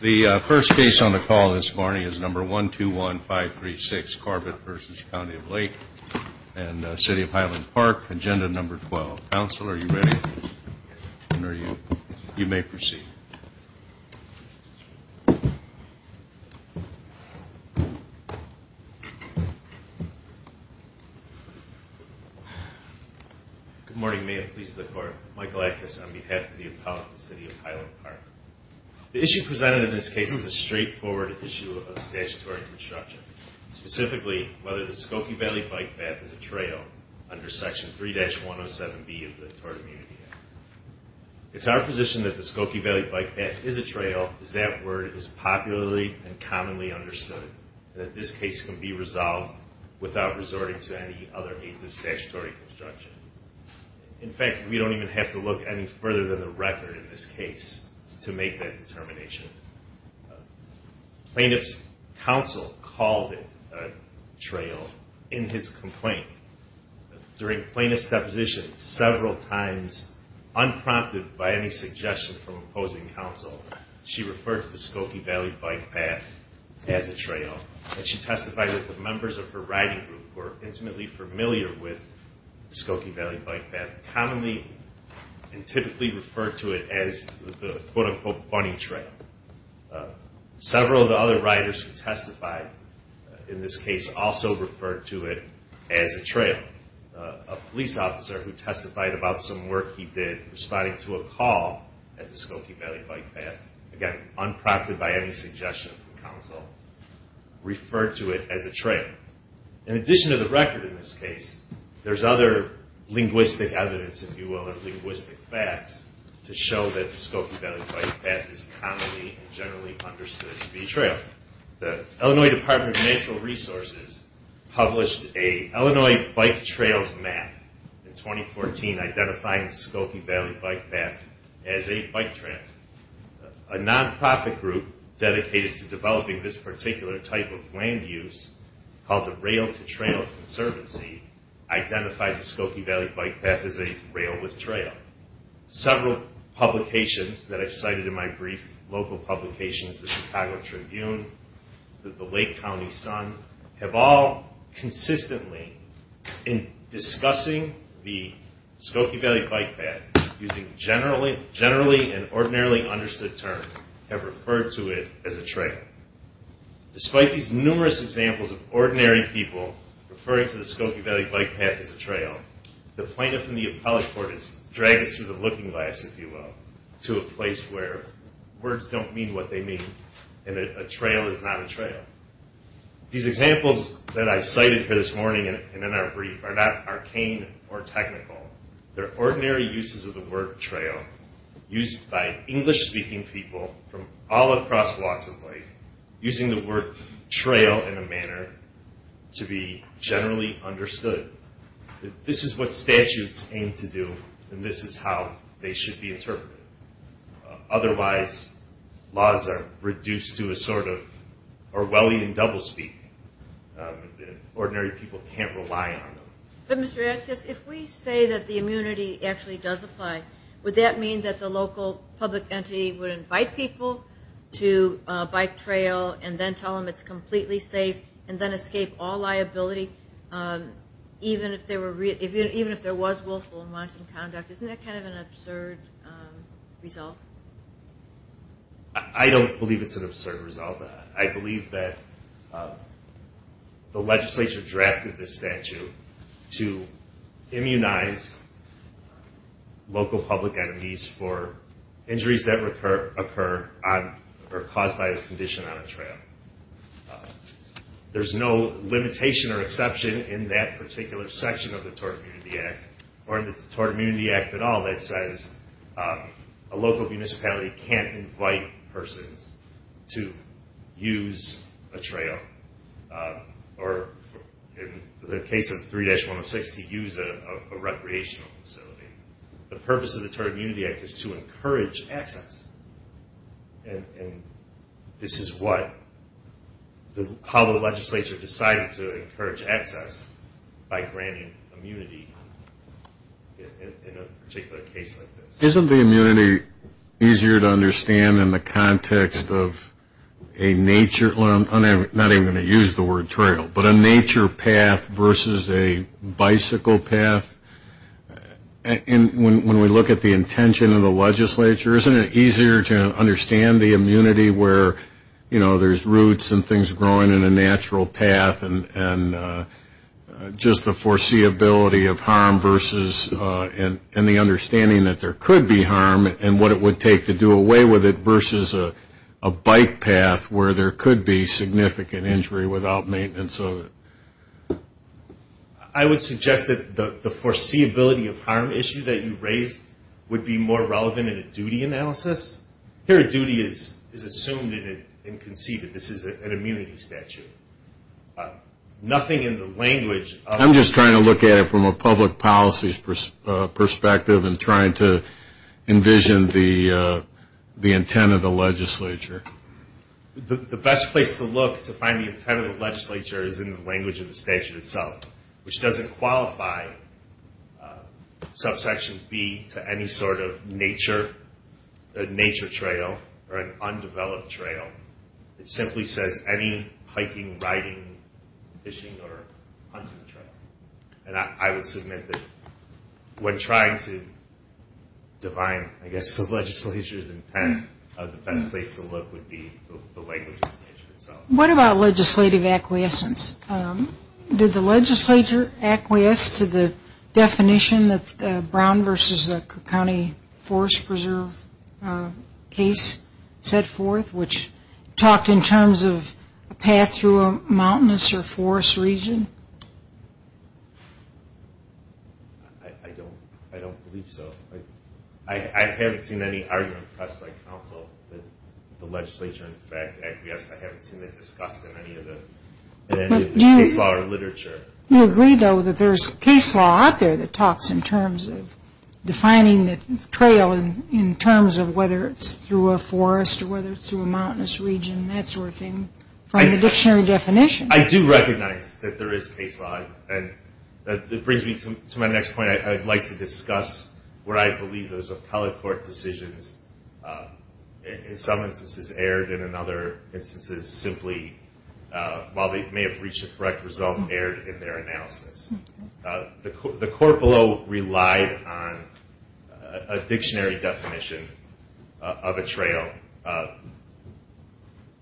The first case on the call this morning is number 121536, Corbett v. County of Lake and City of Highland Park, agenda number 12. Council, are you ready? You may proceed. Good morning. May it please the Court. Michael Ackes on behalf of the appellate of the City of Highland Park. The issue presented in this case is a straightforward issue of statutory construction, specifically whether the Skokie Valley Bike Path is a trail under Section 3-107B of the Tourist Immunity Act. It's our position that the Skokie Valley Bike Path is a trail is that word is popularly and commonly understood, and that this case can be resolved without resorting to any other means of statutory construction. In fact, we don't even have to look any further than the record in this case to make that determination. Plaintiff's counsel called it a trail in his complaint. During plaintiff's deposition, several times, unprompted by any suggestion from opposing counsel, she referred to the Skokie Valley Bike Path as a trail. And she testified that the members of her riding group were intimately familiar with the Skokie Valley Bike Path, commonly and typically referred to it as the quote-unquote funny trail. Several of the other riders who testified in this case also referred to it as a trail. A police officer who testified about some work he did responding to a call at the Skokie Valley Bike Path, again, unprompted by any suggestion from counsel, referred to it as a trail. In addition to the record in this case, there's other linguistic evidence, if you will, or linguistic facts to show that the Skokie Valley Bike Path is commonly and generally understood to be a trail. The Illinois Department of Natural Resources published a Illinois bike trails map in 2014 identifying the Skokie Valley Bike Path as a bike trail. A non-profit group dedicated to developing this particular type of land use called the Rail-to-Trail Conservancy identified the Skokie Valley Bike Path as a rail with trail. Several publications that I've cited in my brief, local publications, the Chicago Tribune, the Lake County Sun, have all consistently in discussing the Skokie Valley Bike Path using generally and ordinarily understood terms have referred to it as a trail. Despite these numerous examples of ordinary people referring to the Skokie Valley Bike Path as a trail, the plaintiff in the appellate court has dragged us through the looking glass, if you will, to a place where words don't mean what they mean and a trail is not a trail. These examples that I've cited here this morning and in our brief are not arcane or technical. They're ordinary uses of the word trail used by English-speaking people from all across walks of life using the word trail in a manner to be generally understood. This is what statutes aim to do and this is how they should be interpreted. Otherwise, laws are reduced to a sort of Orwellian doublespeak. Ordinary people can't rely on them. But Mr. Atkins, if we say that the immunity actually does apply, would that mean that the local public entity would invite people to bike trail and then tell them it's completely safe and then escape all liability even if there was willful and modest conduct? Isn't that kind of an absurd result? I don't believe it's an absurd result. I believe that the legislature drafted this statute to immunize local public entities for injuries that occur or are caused by a condition on a trail. There's no limitation or exception in that particular section of the Tort Immunity Act or in the Tort Immunity Act at all that says a local municipality can't invite persons to use a trail or in the case of 3-106 to use a recreational facility. The purpose of the Tort Immunity Act is to encourage access and this is how the legislature decided to encourage access by granting immunity in a particular case like this. Isn't the immunity easier to understand in the context of a nature, I'm not even going to use the word trail, but a nature path versus a bicycle path? When we look at the intention of the legislature, isn't it easier to understand the immunity where there's roots and things growing in a natural path and just the foreseeability of harm versus and the understanding that there could be harm and what it would take to do away with it versus a bike path where there could be significant injury without maintenance of it? I would suggest that the foreseeability of harm issue that you raised would be more relevant in a duty analysis. Here a duty is assumed and conceded. This is an immunity statute. Nothing in the language of... I'm just trying to look at it from a public policy perspective and trying to envision the intent of the legislature. The best place to look to find the intent of the legislature is in the language of the statute itself, which doesn't qualify subsection B to any sort of nature trail or an undeveloped trail. It simply says any hiking, riding, fishing, or hunting trail. And I would submit that when trying to define, I guess, the legislature's intent, the best place to look would be the language of the statute itself. What about legislative acquiescence? Did the legislature acquiesce to the definition that Brown versus the county forest preserve case set forth, which talked in terms of a path through a mountainous or forest region? I don't believe so. I haven't seen any argument pressed by counsel that the legislature, in fact, acquiesced. I haven't seen it discussed in any of the case law or literature. You agree, though, that there's case law out there that talks in terms of defining the trail in terms of whether it's through a forest or whether it's through a mountainous region, that sort of thing, from the dictionary definition. I do recognize that there is case law. And that brings me to my next point. I'd like to discuss where I believe those appellate court decisions in some instances erred and in other instances simply, while they may have reached a correct result, erred in their analysis. The court below relied on a dictionary definition of a trail,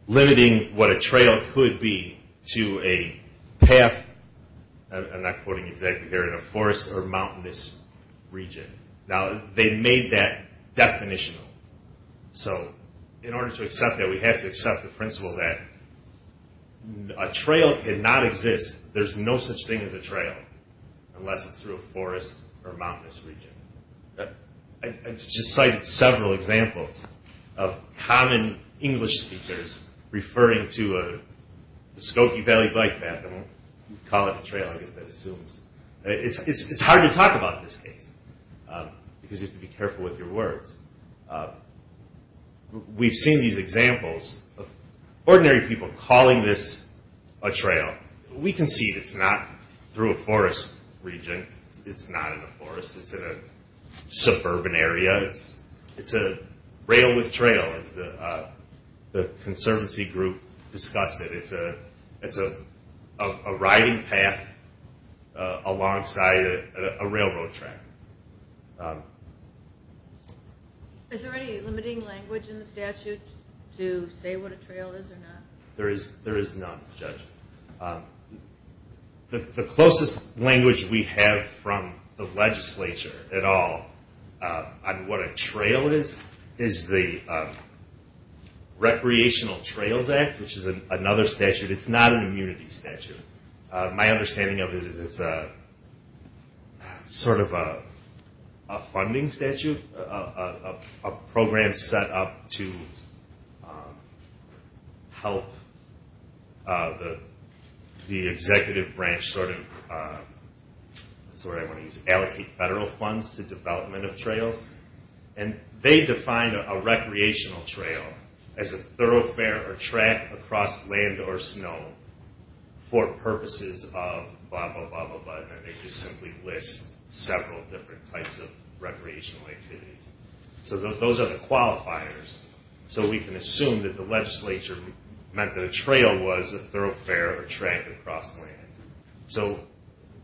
limiting what a trail could be to a path, I'm not quoting exactly here, in a forest or mountainous region. Now, they made that definitional. So in order to accept that, we have to accept the principle that a trail cannot exist, there's no such thing as a trail, unless it's through a forest or mountainous region. I've just cited several examples of common English speakers referring to the Skokie Valley Bike Path, and we'll call it a trail, I guess that assumes. It's hard to talk about this case, because you have to be careful with your words. We've seen these examples of ordinary people calling this a trail. We can see it's not through a forest region, it's not in a forest, it's in a suburban area. It's a rail with trail, as the Conservancy group discussed it. It's a riding path alongside a railroad track. Is there any limiting language in the statute to say what a trail is or not? There is a funding statute, a program set up to help the executive branch allocate federal funds to development of trails, and they define a recreational trail as a thoroughfare or track across land or snow for purposes of blah blah blah. They just simply list several different types of recreational activities. So those are the qualifiers, so we can assume that the legislature meant that a trail was a thoroughfare or track across land.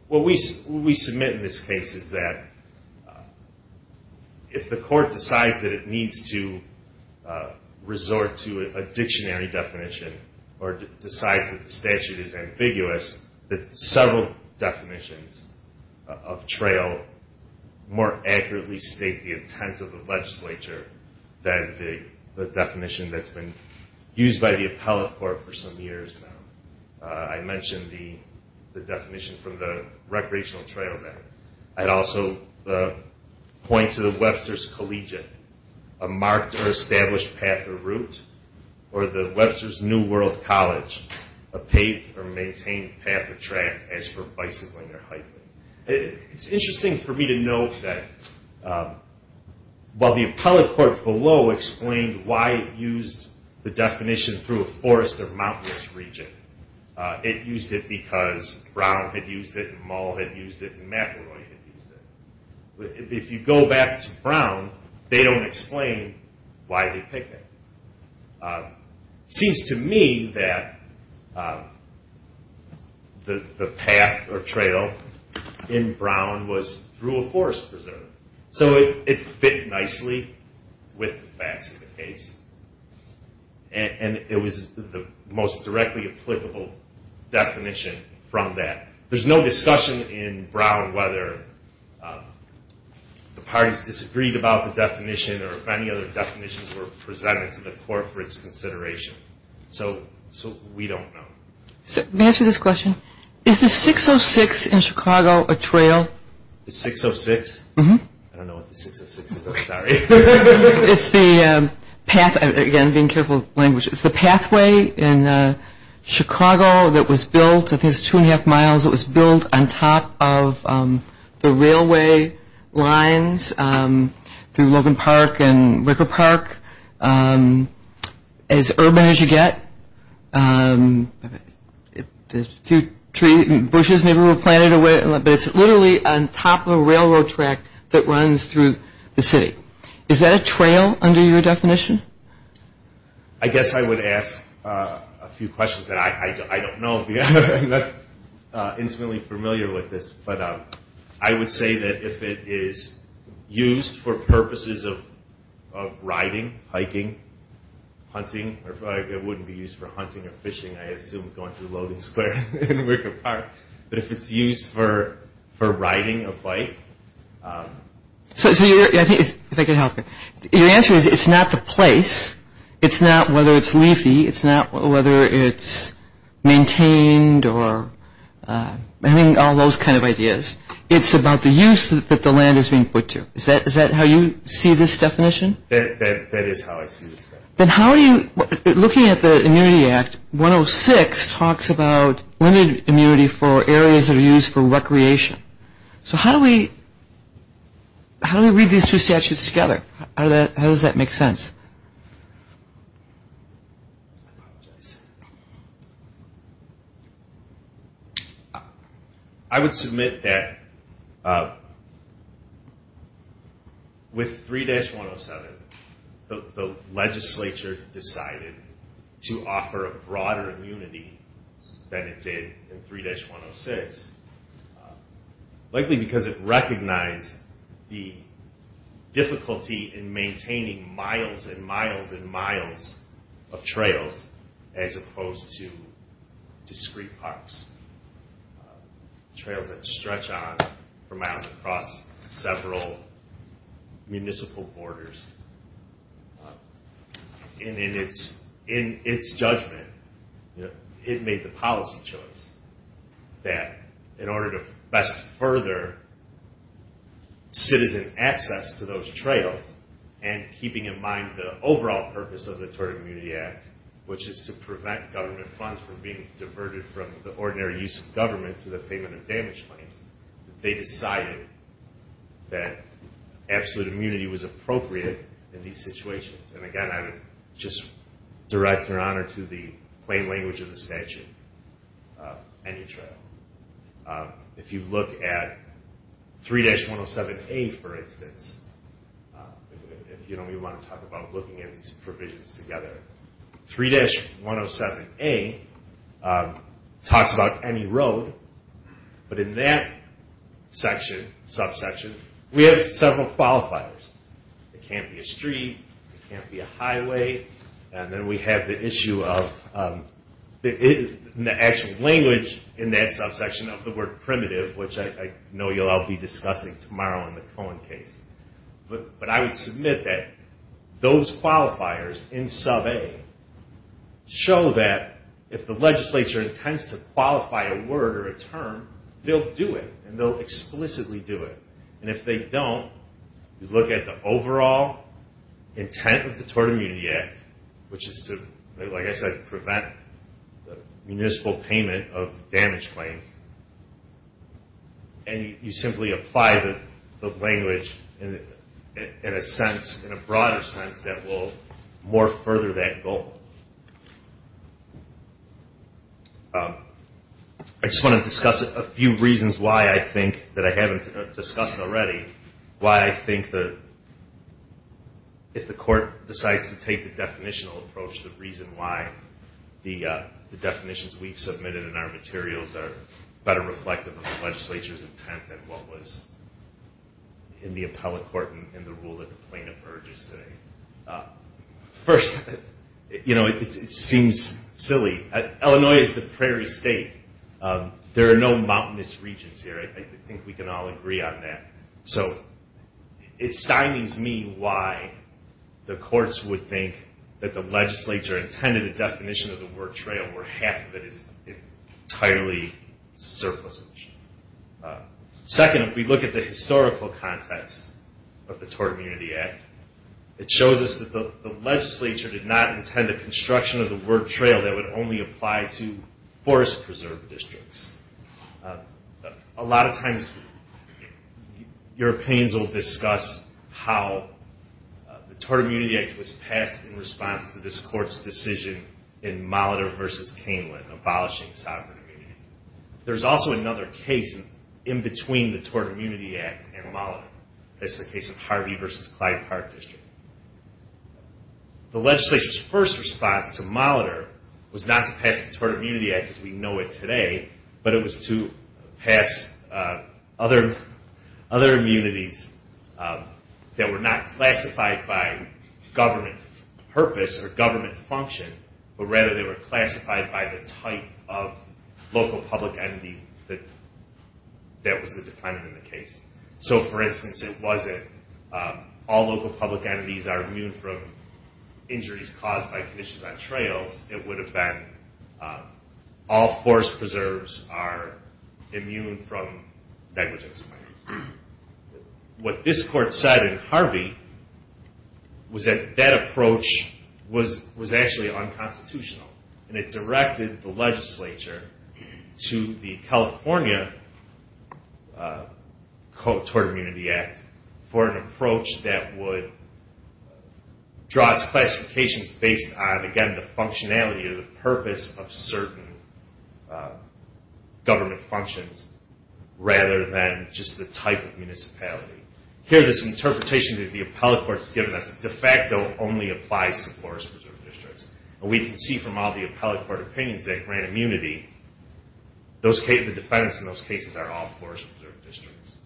What we submit in this case is that if the court decides that it needs to resort to a dictionary definition or decides that the statute is ambiguous, that several definitions of trail more accurately state the intent of the legislature than the definition that's been used by the appellate court for some years now. I mentioned the definition from the Recreational Trail Act. I'd also point to the Webster's Collegiate, a marked or established path or route, or the Webster's New World College, a paved or maintained path or track as for bicycling or hiking. It's interesting for me to note that while the appellate court below explained why it used the definition through a forest or mountainous region, it used it because Brown had used it and Mull had used it and McElroy had used it. If you go back to Brown, they don't explain why they picked it. It seems to me that the path or trail in Brown was through a forest preserve, so it fit nicely with the facts of the case and it was the most directly applicable definition from that. There's no discussion in Brown whether the parties disagreed about the definition or if any other definitions were presented to the court for its consideration, so we don't know. Let me answer this question. Is the 606 in Chicago a trail? The 606? I don't know what the 606 is, I'm sorry. It's the pathway in Chicago that was built, I think it's two and a half miles, it was built on top of the railway lines through Logan Park and Ricker Park, as urban as you get. Bushes maybe were planted, but it's literally on top of a railroad track that runs through the city. Is that a trail under your definition? I guess I would ask a few questions that I don't know, I'm not intimately familiar with this, but I would say that if it is used for purposes of riding, hiking, hunting, it wouldn't be used for hunting or fishing, I assume going through Logan Square and Ricker Park, but if it's used for riding a bike. So your answer is it's not the place, it's not whether it's leafy, it's not whether it's maintained or having all those kind of ideas, it's about the use that the land is being put to. Is that how you see this definition? That is how I see it. Then how do you, looking at the Immunity Act, 106 talks about limited immunity for areas that are used for recreation. So how do we read these two statutes together? How does that make sense? I would submit that with 3-107, the legislature decided to offer a broader immunity than it did in 3-106. Likely because it recognized the difficulty in maintaining miles and miles and miles of trails as opposed to discrete parks. Trails that stretch on for miles across several municipal borders. In its judgment, it made the policy choice that in order to best further citizen access to those trails, and keeping in mind the overall purpose of the Tort Immunity Act, which is to prevent government funds from being diverted from the ordinary use of government to the payment of damage claims, they decided that absolute immunity was appropriate in these situations. And again, I would just direct your honor to the plain language of the statute on your trail. If you look at 3-107A for instance, if you want to talk about looking at these provisions together, 3-107A talks about any road, but in that section, subsection, we have several qualifiers. It can't be a street, it can't be a highway, and then we have the issue of the actual language in that subsection of the word primitive, which I know you'll all be discussing tomorrow in the Cohen case. But I would submit that those qualifiers in sub-A show that if the legislature intends to qualify a word or a term, they'll do it, and they'll explicitly do it. And if they don't, you look at the overall intent of the Tort Immunity Act, which is to, like I said, prevent municipal payment of damage claims, and you simply apply the language in a sense, in a broader sense that will more further that goal. I just want to discuss a few reasons why I think that I haven't discussed already, why I think that if the court decides to take the definitional approach, the reason why the definitions we've submitted in our materials are better reflective of the legislature's intent than what was in the appellate court and the rule that the plaintiff urges today. First, it seems silly. Illinois is the prairie state. There are no mountainous regions here. I think we can all agree on that. So it stymies me why the courts would think that the legislature intended a definition of the word trail where half of it is entirely surplus. Second, if we look at the historical context of the Tort Immunity Act, it shows us that the legislature did not intend a construction of the word trail that would only apply to forest preserve districts. A lot of times, Europeans will discuss how the Tort Immunity Act was passed in response to this court's decision in Molitor v. Caneland abolishing sovereign immunity. There's also another case in between the Tort Immunity Act and Molitor. That's the case of Harvey v. Clyde Park District. The legislature's first response to Molitor was not to pass the Tort Immunity Act as we know it today, but it was to pass other immunities that were not classified by government purpose or government function, but rather they were classified by the type of local public entity that was the defendant in the case. So for instance, it wasn't all local public entities are immune from injuries caused by conditions on trails. It would have been all forest preserves are immune from negligence claims. What this court said in Harvey was that that approach was actually unconstitutional. It directed the legislature to the California Tort Immunity Act for an approach that would draw its classifications based on the functionality or the purpose of certain government functions rather than just the type of municipality. Here this interpretation that the appellate court has given us de facto only applies to forest preserve districts. We can see from all the appellate court opinions that grant immunity, the defendants in those cases are all forest preserve districts.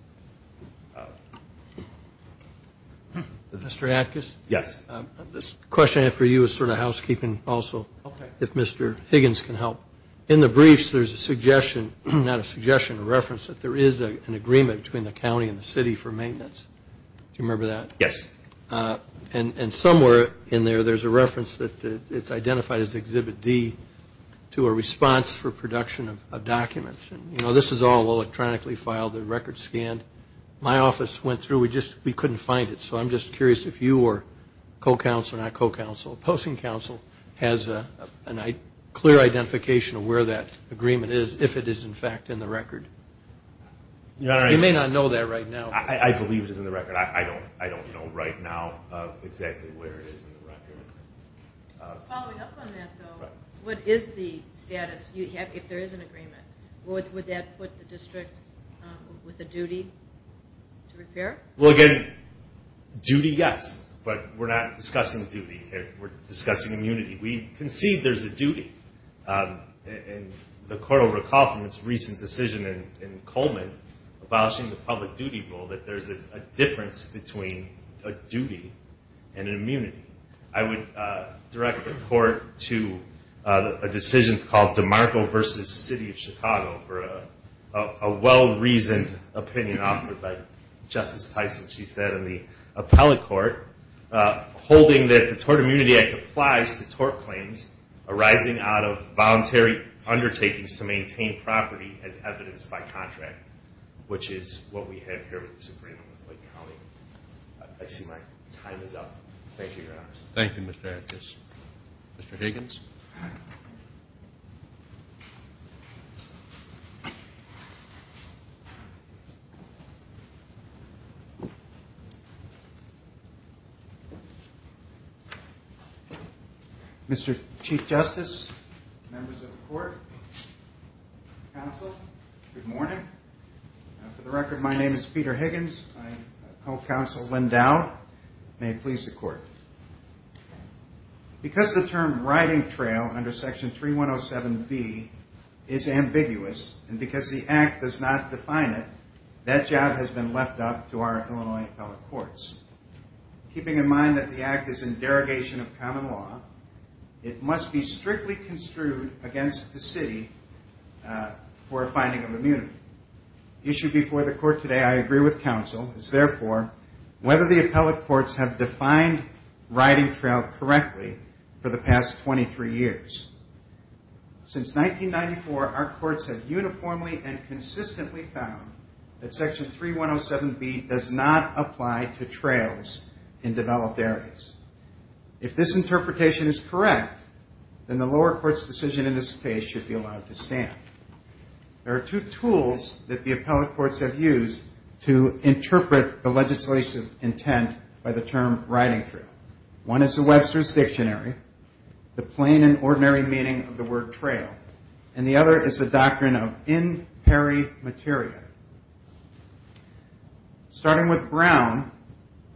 Mr. Atkus? Yes. This question I have for you is sort of housekeeping also, if Mr. Higgins can help. In the briefs there's a suggestion, not a suggestion, a reference that there is an agreement between the county and the city for maintenance. Do you remember that? Yes. And somewhere in there there's a reference that it's identified as Exhibit D to a response for production of documents. This is all electronically filed, the records scanned. My office went through, we couldn't find it, so I'm just curious if you or co-counsel, not co-counsel, opposing counsel has a clear identification of where that agreement is if it is in fact in the record. You may not know that right now. I believe it's in the record. I don't know right now exactly where it is in the record. Following up on that, though, what is the status if there is an agreement? Would that put the district with a duty to repair? Well, again, duty, yes, but we're not discussing duties here. We're discussing immunity. We concede there's a duty, and the court will recall from its recent decision in Coleman abolishing the public duty rule that there's a difference between a duty and an immunity. I would direct the court to a decision called DeMarco v. City of Chicago for a well-reasoned opinion offered by Justice Tyson. She said in the appellate court, holding that the Tort Immunity Act applies to tort claims arising out of voluntary undertakings to maintain property as evidenced by contract, which is what we have here with the Supreme Court. I see my time is up. Thank you, Your Honor. Thank you, Mr. Antis. Mr. Higgins? Mr. Chief Justice, members of the court, counsel, good morning. For the record, my name is Peter Higgins. I'm co-counsel Lynn Dowd. May it please the court. Because the term riding trail under Section 3107B is ambiguous and because the Act does not define it, that job has been left up to our Illinois appellate courts. Keeping in mind that the Act is in derogation of common law, it must be strictly construed against the city for a finding of immunity. The issue before the court today, I agree with counsel, is therefore whether the appellate courts have defined riding trail correctly for the past 23 years. Since 1994, our courts have uniformly and consistently found that Section 3107B does not apply to trails in developed areas. If this interpretation is correct, then the lower court's decision in this case should be allowed to stand. There are two tools that the appellate courts have used to interpret the legislative intent by the term riding trail. One is the Webster's Dictionary, the plain and ordinary meaning of the word trail, and the other is the doctrine of in peri materia. Starting with Brown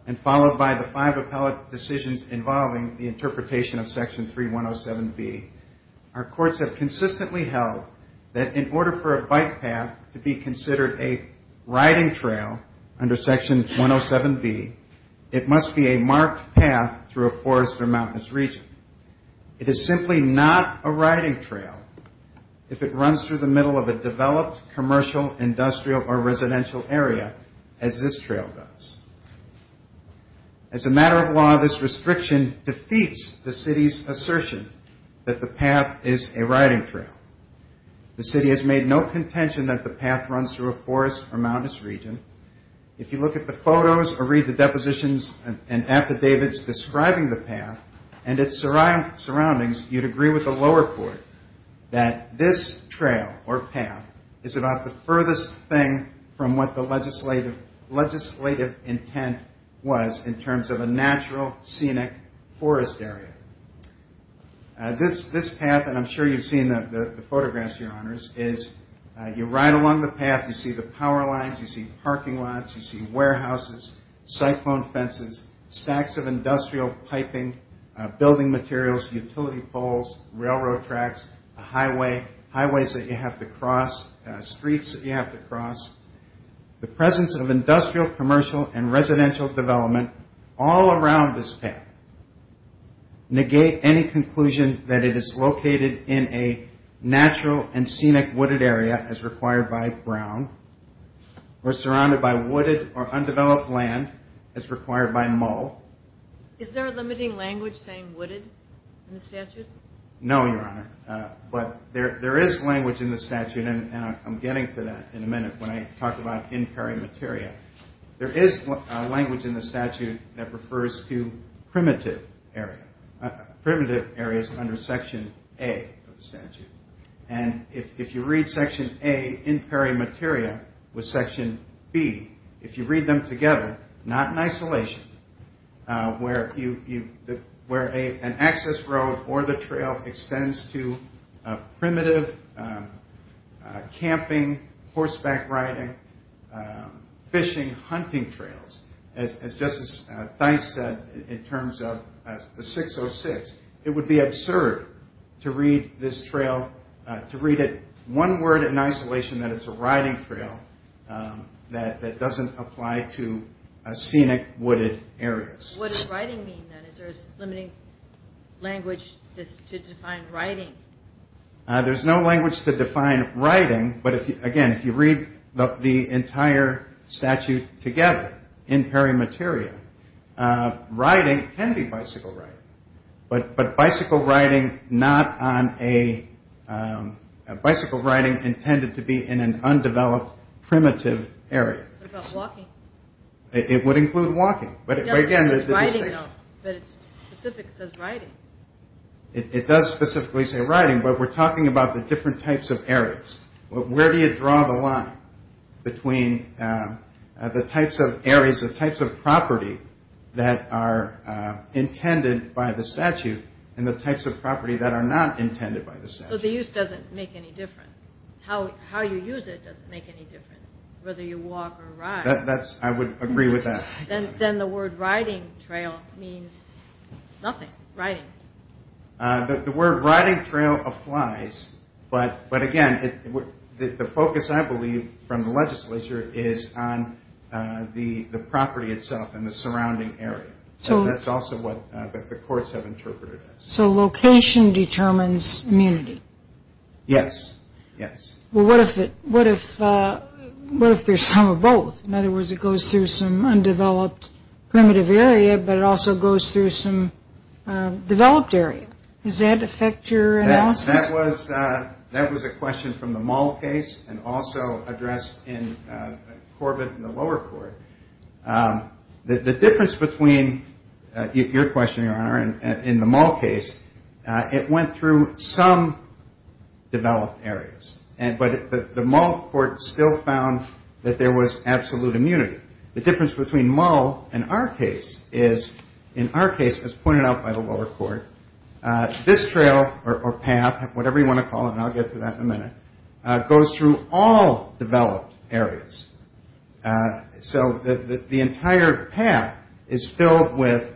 and followed by the five appellate decisions involving the interpretation of Section 3107B, our courts have consistently held that in order for a bike path to be considered a riding trail under Section 107B, it must be a marked path through a forest or mountainous region. It is simply not a riding trail if it runs through the middle of a developed commercial, industrial, or residential area, as this trail does. As a matter of law, this restriction defeats the city's assertion that the path is a riding trail. The city has made no contention that the path runs through a forest or mountainous region. If you look at the photos or read the depositions and affidavits describing the path and its surroundings, you'd agree with the lower court that this trail or path is about the furthest thing from what the legislative intent was in terms of a natural, scenic forest area. This path, and I'm sure you've seen the photographs, Your Honors, is you ride along the path, you see the power lines, you see parking lots, you see warehouses, cyclone fences, stacks of industrial piping, building materials, utility poles, railroad tracks, highways that you have to cross, streets that you have to cross. The presence of industrial, commercial, and residential development all around this path negate any conclusion that it is located in a natural and scenic wooded area as required by Brown or surrounded by wooded or undeveloped land as required by Mull. Is there a limiting language saying wooded in the statute? No, Your Honor, but there is language in the statute, and I'm getting to that in a minute when I talk about in peri materia. There is language in the statute that refers to primitive areas under section A of the statute. And if you read section A in peri materia with section B, if you read them together, not in isolation, where an access road or the trail extends to primitive camping, horseback riding, fishing, hunting trails, as Justice Theis said in terms of 606, it would be absurd to read this trail, to read it one word in isolation that it's a riding trail that doesn't apply to scenic wooded areas. What does riding mean then? Is there a limiting language to define riding? There's no language to define riding, but again, if you read the entire statute together in peri materia, riding can be bicycle riding, but bicycle riding intended to be in an undeveloped primitive area. What about walking? It would include walking, but again, there's a distinction. It doesn't say riding, though, but it specifically says riding. It does specifically say riding, but we're talking about the different types of areas. Where do you draw the line between the types of areas, the types of property that are intended by the statute and the types of property that are not intended by the statute? So the use doesn't make any difference. How you use it doesn't make any difference, whether you walk or ride. I would agree with that. Then the word riding trail means nothing, riding. The word riding trail applies, but again, the focus, I believe, from the legislature is on the property itself and the surrounding area. That's also what the courts have interpreted it as. So location determines immunity? Yes, yes. Well, what if there's some or both? In other words, it goes through some undeveloped primitive area, but it also goes through some developed area. Does that affect your analysis? That was a question from the Mull case and also addressed in Corbett in the lower court. The difference between your question, Your Honor, and the Mull case, it went through some developed areas, but the Mull court still found that there was absolute immunity. The difference between Mull and our case is, in our case, as pointed out by the lower court, this trail or path, whatever you want to call it, and I'll get to that in a minute, goes through all developed areas. So the entire path is filled with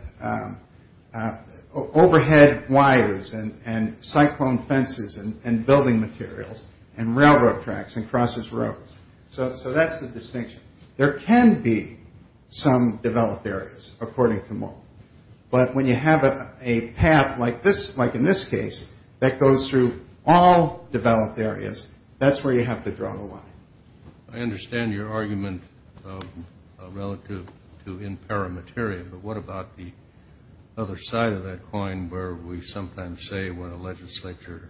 overhead wires and cyclone fences and building materials and railroad tracks and crosses roads. So that's the distinction. There can be some developed areas, according to Mull. But when you have a path like in this case that goes through all developed areas, that's where you have to draw the line. I understand your argument relative to in paramateria, but what about the other side of that coin where we sometimes say when a legislature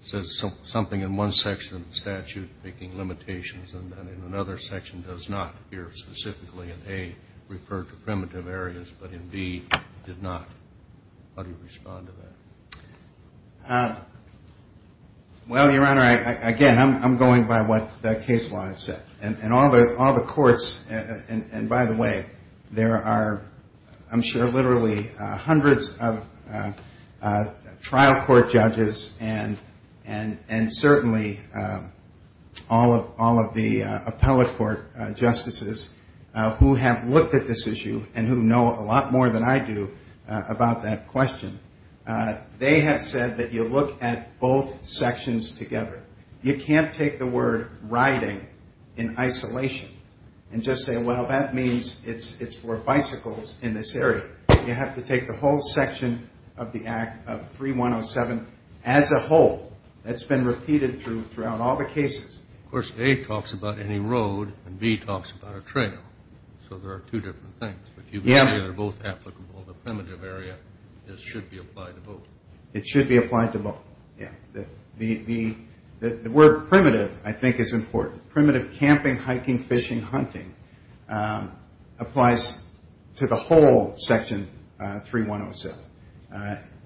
says something in one section of the statute making limitations and then in another section does not appear specifically in, A, referred to primitive areas, but in, B, did not. How do you respond to that? Well, Your Honor, again, I'm going by what the case law has said. And all the courts, and by the way, there are I'm sure literally hundreds of trial court judges and certainly all of the appellate court justices who have looked at this issue and who know a lot more than I do about that question. They have said that you look at both sections together. You can't take the word riding in isolation and just say, well, that means it's for bicycles in this area. You have to take the whole section of the Act of 3107 as a whole. That's been repeated throughout all the cases. Of course, A talks about any road and B talks about a trail. So there are two different things. But you can say they're both applicable. The primitive area should be applied to both. It should be applied to both, yeah. The word primitive, I think, is important. Primitive camping, hiking, fishing, hunting applies to the whole Section 3107,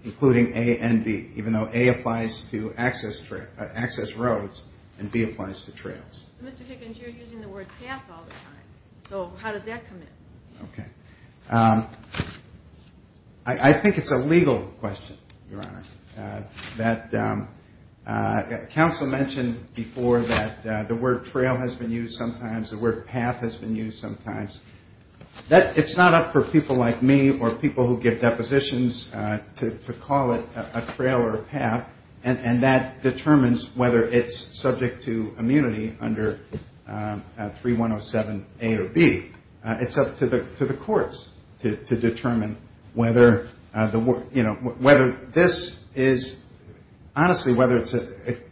including A and B, even though A applies to access roads and B applies to trails. Mr. Dickens, you're using the word path all the time. So how does that come in? Okay. I think it's a legal question, Your Honor. Council mentioned before that the word trail has been used sometimes. The word path has been used sometimes. It's not up for people like me or people who give depositions to call it a trail or a path, and that determines whether it's subject to immunity under 3107A or B. It's up to the courts to determine whether this is honestly whether it's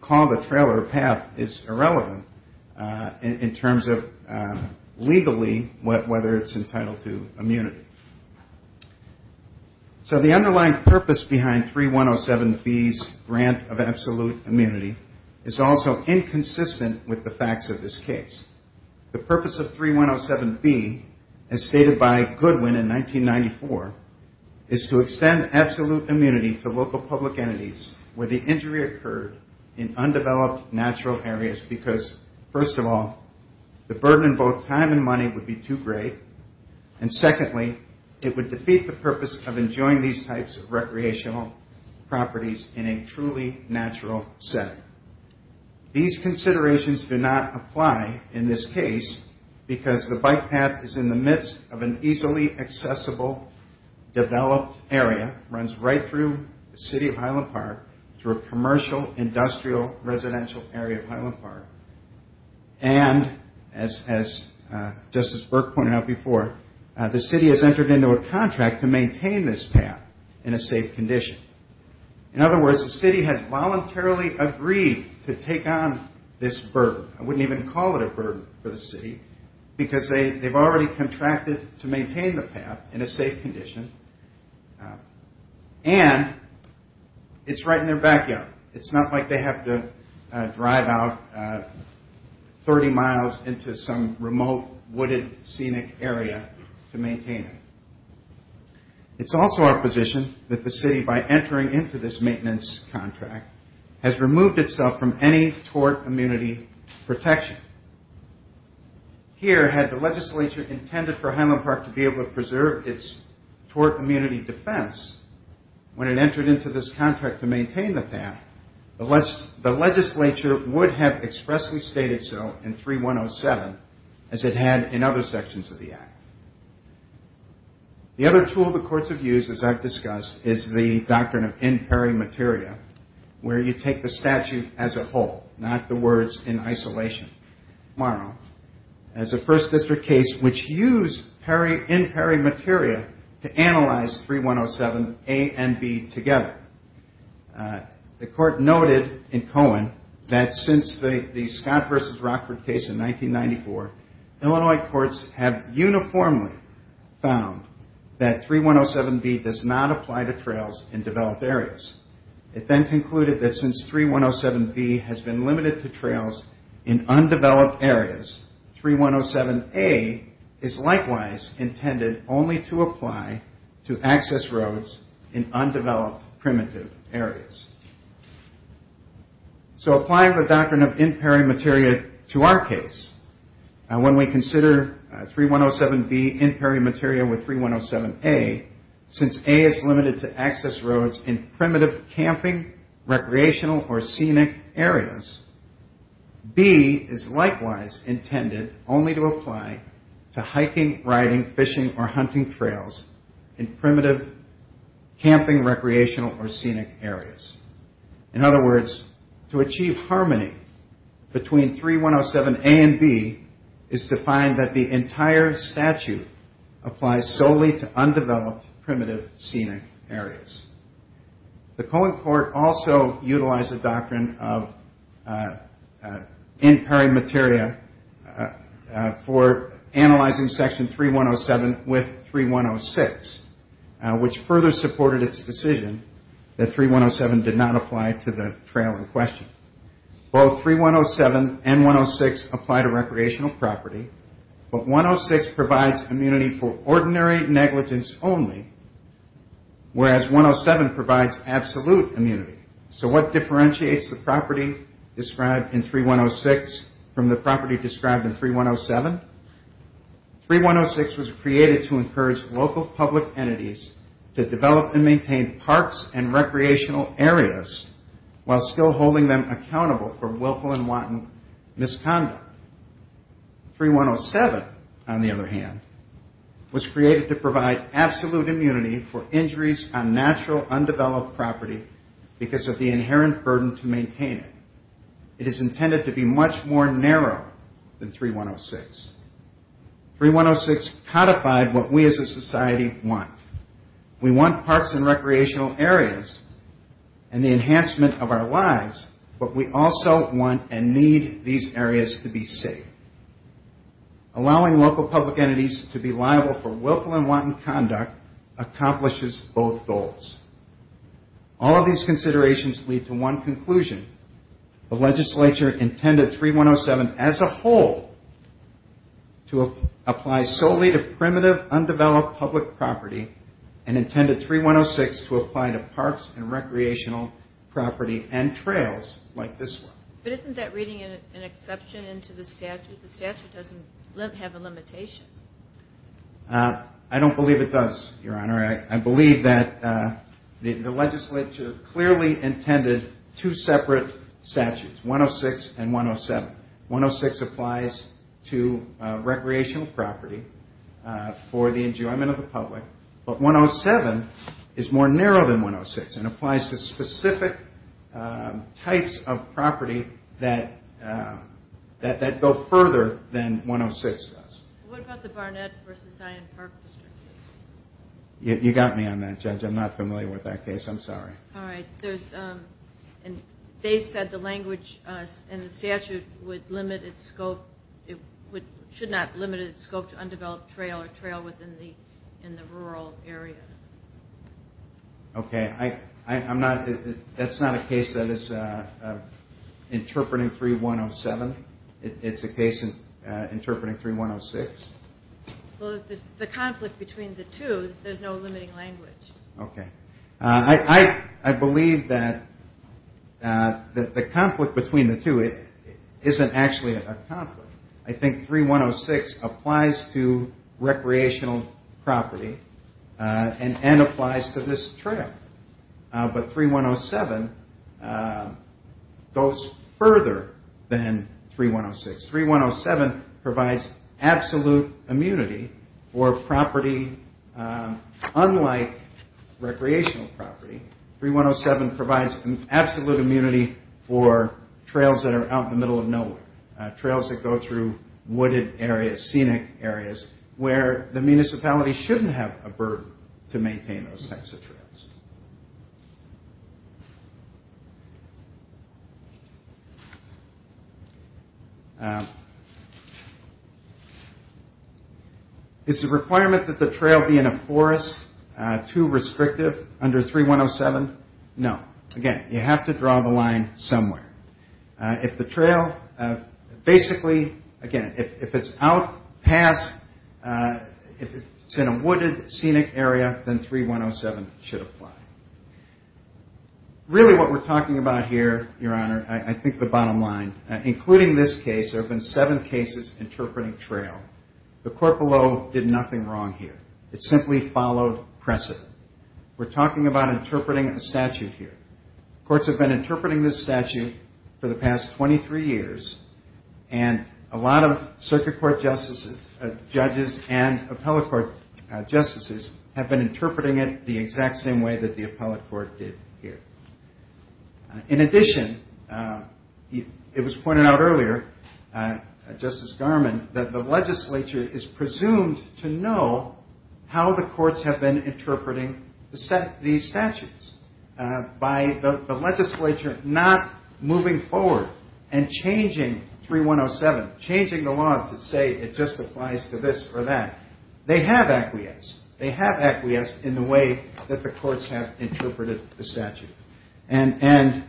called a trail or a path is irrelevant in terms of legally whether it's entitled to immunity. So the underlying purpose behind 3107B's grant of absolute immunity is also inconsistent with the facts of this case. The purpose of 3107B, as stated by Goodwin in 1994, is to extend absolute immunity to local public entities where the injury occurred in undeveloped natural areas because, first of all, the burden in both time and money would be too great, and secondly, it would defeat the purpose of enjoying these types of recreational properties in a truly natural setting. These considerations do not apply in this case because the bike path is in the midst of an easily accessible, developed area, runs right through the city of Highland Park, through a commercial, industrial, residential area of Highland Park, and as Justice Burke pointed out before, the city has entered into a contract to maintain this path in a safe condition. In other words, the city has voluntarily agreed to take on this burden. I wouldn't even call it a burden for the city because they've already contracted to maintain the path in a safe condition, and it's right in their backyard. It's not like they have to drive out 30 miles into some remote, wooded, scenic area to maintain it. It's also our position that the city, by entering into this maintenance contract, has removed itself from any tort immunity protection. Here, had the legislature intended for Highland Park to be able to preserve its tort immunity defense when it entered into this contract to maintain the path, the legislature would have expressly stated so in 3107 as it had in other sections of the act. The other tool the courts have used, as I've discussed, is the doctrine of in peri materia, where you take the statute as a whole, not the words in isolation. Tomorrow, as a first district case which used in peri materia to analyze 3107A and B together. The court noted in Cohen that since the Scott v. Rockford case in 1994, Illinois courts have uniformly found that 3107B does not apply to trails in developed areas. It then concluded that since 3107B has been limited to trails in undeveloped areas, 3107A is likewise intended only to apply to access roads in undeveloped, primitive areas. So applying the doctrine of in peri materia to our case, when we consider 3107B in peri materia with 3107A, since A is limited to access roads in primitive camping, recreational, or scenic areas, B is likewise intended only to apply to hiking, riding, fishing, or hunting trails in primitive camping, recreational, or scenic areas. In other words, to achieve harmony between 3107A and B is to find that the entire statute applies solely to undeveloped, primitive, scenic areas. The Cohen court also utilized the doctrine of in peri materia for analyzing section 3107 with 3106, which further supported its decision that 3107 did not apply to the trail in question. Both 3107 and 106 apply to recreational property, but 106 provides immunity for ordinary negligence only, whereas 107 provides absolute immunity. So what differentiates the property described in 3106 from the property described in 3107? 3106 was created to encourage local public entities to develop and maintain parks and recreational areas while still holding them accountable for willful and wanton misconduct. 3107, on the other hand, was created to provide absolute immunity for injuries on natural, undeveloped property because of the inherent burden to maintain it. It is intended to be much more narrow than 3106. 3106 codified what we as a society want. We want parks and recreational areas and the enhancement of our lives, but we also want and need these areas to be safe. Allowing local public entities to be liable for willful and wanton conduct accomplishes both goals. All of these considerations lead to one conclusion. The legislature intended 3107 as a whole to apply solely to primitive, undeveloped public property and intended 3106 to apply to parks and recreational property and trails like this one. But isn't that reading an exception into the statute? The statute doesn't have a limitation. I believe that the legislature clearly intended two separate statutes, 106 and 107. 106 applies to recreational property for the enjoyment of the public, but 107 is more narrow than 106 and applies to specific types of property that go further than 106 does. What about the Barnett v. Zion Park District case? You got me on that, Judge. I'm not familiar with that case. I'm sorry. All right. They said the language in the statute would limit its scope. It should not limit its scope to undeveloped trail or trail within the rural area. Okay. That's not a case that is interpreting 3107. It's a case interpreting 3106? Well, the conflict between the two is there's no limiting language. Okay. I believe that the conflict between the two isn't actually a conflict. I think 3106 applies to recreational property and N applies to this trail. But 3107 goes further than 3106. 3107 provides absolute immunity for property unlike recreational property. 3107 provides absolute immunity for trails that are out in the middle of nowhere, trails that go through wooded areas, scenic areas, where the municipality shouldn't have a burden to maintain those types of trails. Is the requirement that the trail be in a forest too restrictive under 3107? No. Again, you have to draw the line somewhere. If the trail basically, again, if it's out past, if it's in a wooded, scenic area, then 3107 should apply. Really what we're talking about here, Your Honor, I think the bottom line, including this case, there have been seven cases interpreting trail. The court below did nothing wrong here. It simply followed precedent. We're talking about interpreting a statute here. Courts have been interpreting this statute for the past 23 years, and a lot of circuit court judges and appellate court justices have been interpreting it the exact same way that the appellate court did here. In addition, it was pointed out earlier, Justice Garmon, that the legislature is presumed to know how the courts have been interpreting these statutes by the legislature not moving forward and changing 3107, changing the law to say it just applies to this or that. They have acquiesced. They have acquiesced in the way that the courts have interpreted the statute. And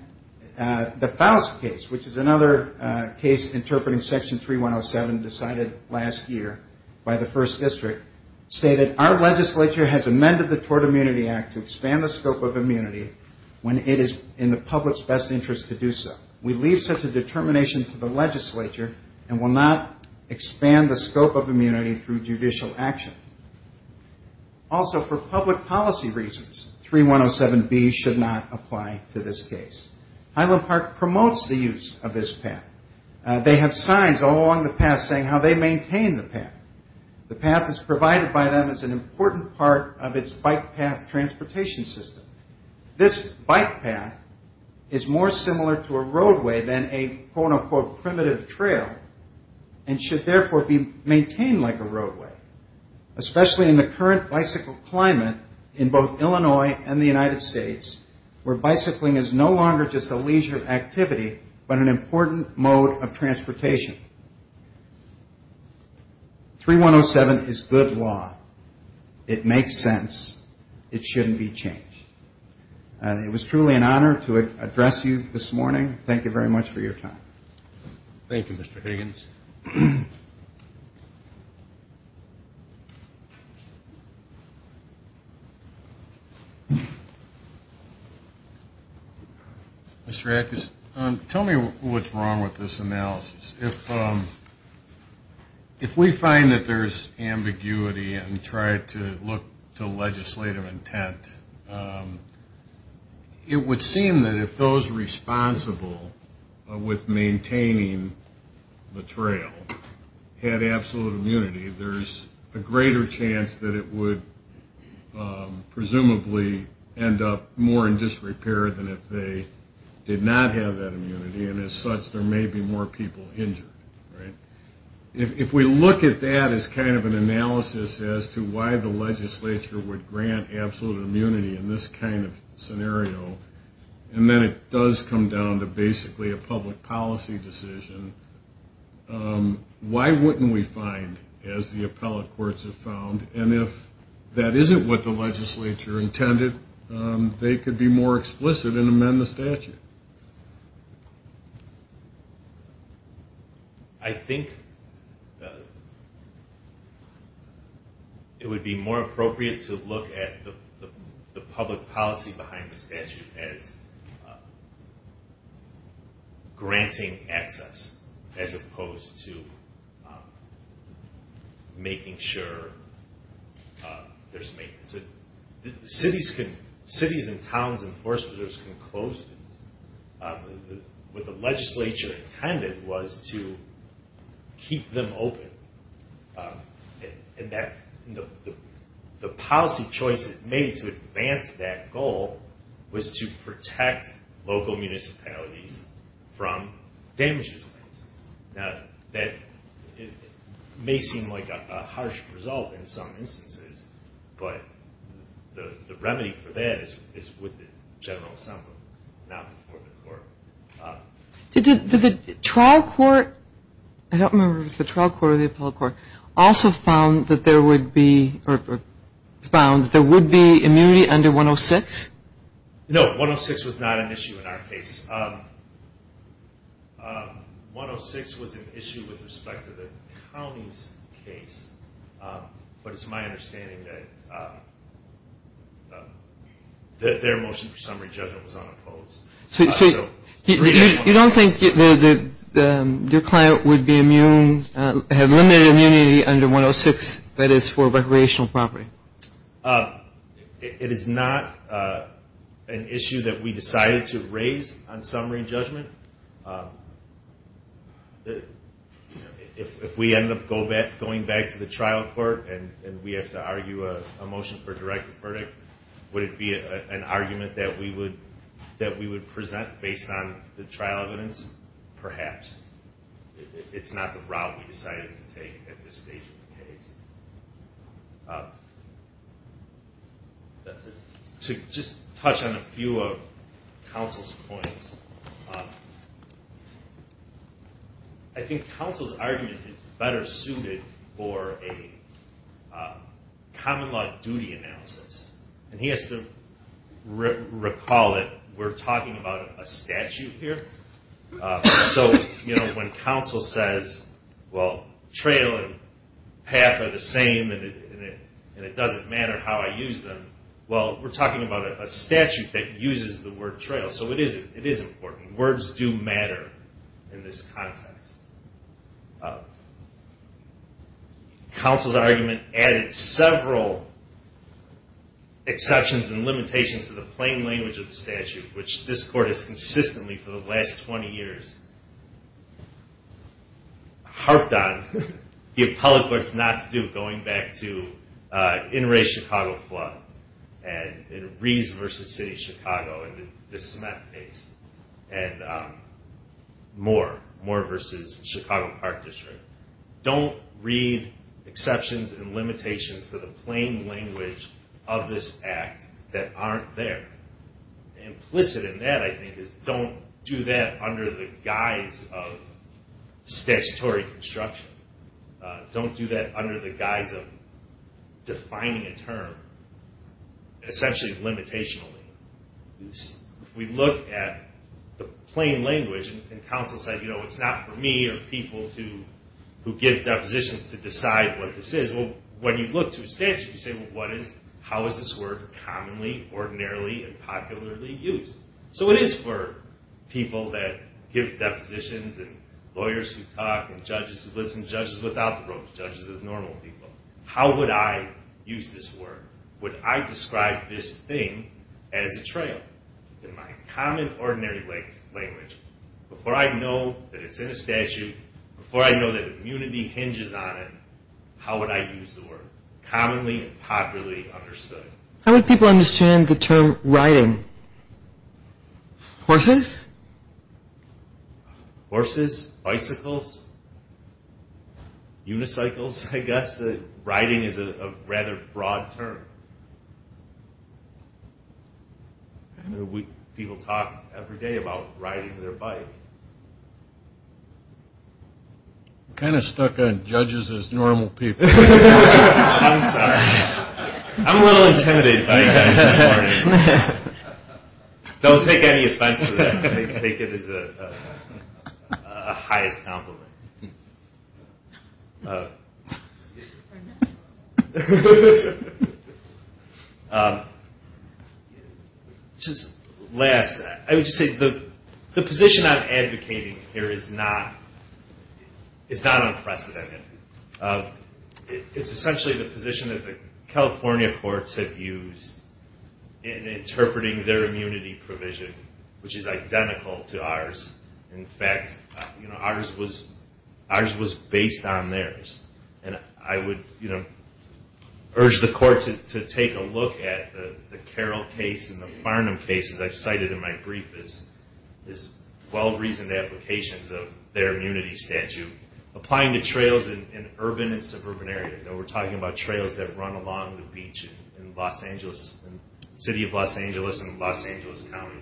the Faust case, which is another case interpreting Section 3107 decided last year by the to expand the scope of immunity when it is in the public's best interest to do so. We leave such a determination to the legislature and will not expand the scope of immunity through judicial action. Also, for public policy reasons, 3107B should not apply to this case. Highland Park promotes the use of this path. They have signs all along the path saying how they maintain the path. The path is provided by them as an important part of its bike path transportation system. This bike path is more similar to a roadway than a quote-unquote primitive trail and should therefore be maintained like a roadway, especially in the current bicycle climate in both Illinois and the United States where bicycling is no longer just a leisure activity but an important mode of transportation. 3107 is good law. It makes sense. It shouldn't be changed. It was truly an honor to address you this morning. Thank you very much for your time. Thank you, Mr. Higgins. Mr. Ackes, tell me what's wrong with this analysis. If we find that there's ambiguity and try to look to legislative intent, it would seem that if those responsible with maintaining the trail had absolute immunity, there's a greater chance that it would presumably end up more in disrepair than if they did not have that immunity and as such there may be more people injured. If we look at that as kind of an analysis as to why the legislature would grant absolute immunity in this kind of scenario, and then it does come down to basically a public policy decision, why wouldn't we find, as the appellate courts have found, and if that isn't what the legislature intended, they could be more explicit and amend the statute? I think it would be more appropriate to look at the public policy behind the statute as granting access as opposed to making sure there's maintenance. Cities and towns and forest preserves can close things. What the legislature intended was to keep them open. The policy choice it made to advance that goal was to protect local municipalities from damages claims. That may seem like a harsh result in some instances, but the remedy for that is with the general assembly, not before the court. Did the trial court, I don't remember if it was the trial court or the appellate court, also found that there would be immunity under 106? No, 106 was not an issue in our case. 106 was an issue with respect to the county's case, but it's my understanding that their motion for summary judgment was unopposed. You don't think your client would have limited immunity under 106, that is for recreational property? It is not an issue that we decided to raise on summary judgment. If we end up going back to the trial court and we have to argue a motion for a directive verdict, would it be an argument that we would present based on the trial evidence? Perhaps. It's not the route we decided to take at this stage of the case. To just touch on a few of counsel's points, I think counsel's argument is better suited for a common law duty analysis. He has to recall that we're talking about a statute here. So when counsel says, well, trail and path are the same and it doesn't matter how I use them, well, we're talking about a statute that uses the word trail. So it is important. Words do matter in this context. Counsel's argument added several exceptions and limitations to the plain language of the statute, which this court has consistently, for the last 20 years, harped on the appellate court's not to do, going back to the Chicago flood and Rees v. City of Chicago and the DeSmet case and Moore v. Chicago Park District. Don't read exceptions and limitations to the plain language of this act that aren't there. Implicit in that, I think, is don't do that under the guise of statutory construction. Don't do that under the guise of defining a term, essentially limitationally. If we look at the plain language and counsel says, you know, it's not for me or people who give depositions to decide what this is, well, when you look to a statute, you say, well, how is this word commonly, ordinarily, and popularly used? So it is for people that give depositions and lawyers who talk and judges who listen, judges without the ropes, judges as normal people. How would I use this word? Would I describe this thing as a trail? In my common, ordinary language, before I know that it's in a statute, before I know that immunity hinges on it, how would I use the word commonly and popularly understood? How would people understand the term riding? Horses? Horses? Bicycles? Unicycles, I guess? Riding is a rather broad term. People talk every day about riding their bike. I'm kind of stuck on judges as normal people. I'm sorry. I'm a little intimidated by you guys this morning. Don't take any offense to that. I think it is a highest compliment. I would just say the position I'm advocating here is not unprecedented. It's essentially the position that the California courts have used in interpreting their immunity provision, which is identical to ours. In fact, ours was based on theirs. I would urge the court to take a look at the Carroll case and the Farnham case, as I've cited in my brief, as well-reasoned applications of their immunity statute, applying to trails in urban and suburban areas. We're talking about trails that run along the beach in the city of Los Angeles and Los Angeles County.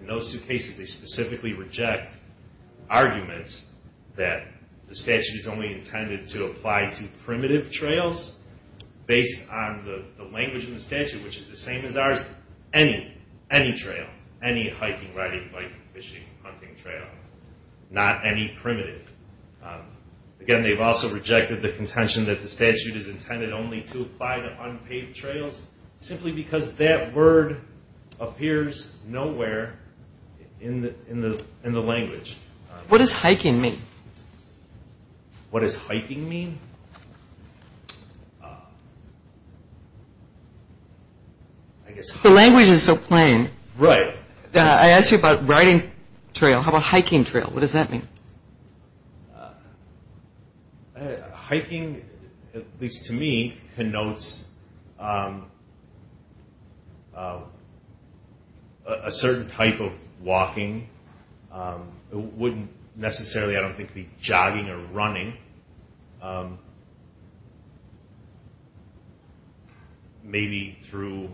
In those two cases, they specifically reject arguments that the statute is only intended to apply to primitive trails based on the language in the statute, which is the same as ours. Any trail, any hiking, riding, biking, fishing, hunting trail. Not any primitive. Again, they've also rejected the contention that the statute is intended only to apply to unpaved trails simply because that word appears nowhere in the language. What does hiking mean? What does hiking mean? The language is so plain. Right. I asked you about riding trail. How about hiking trail? What does that mean? Hiking, at least to me, connotes a certain type of walking. It wouldn't necessarily, I don't think, be jogging or running. Maybe through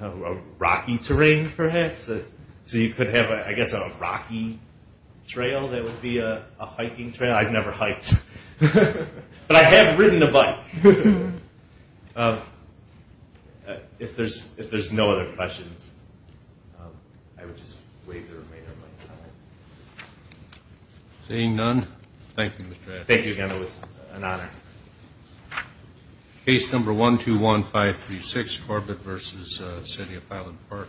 a rocky terrain, perhaps. So you could have, I guess, a rocky trail that would be a hiking trail. I've never hiked. But I have ridden a bike. If there's no other questions, I would just waive the remainder of my time. Seeing none, thank you, Mr. Atkins. Thank you again. It was an honor. Case number 121536, Corbett v. City of Highland Park,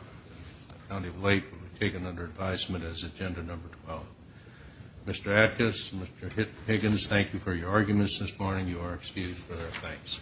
County of Lake, will be taken under advisement as agenda number 12. Mr. Atkins, Mr. Higgins, thank you for your arguments this morning. You are excused for their offense.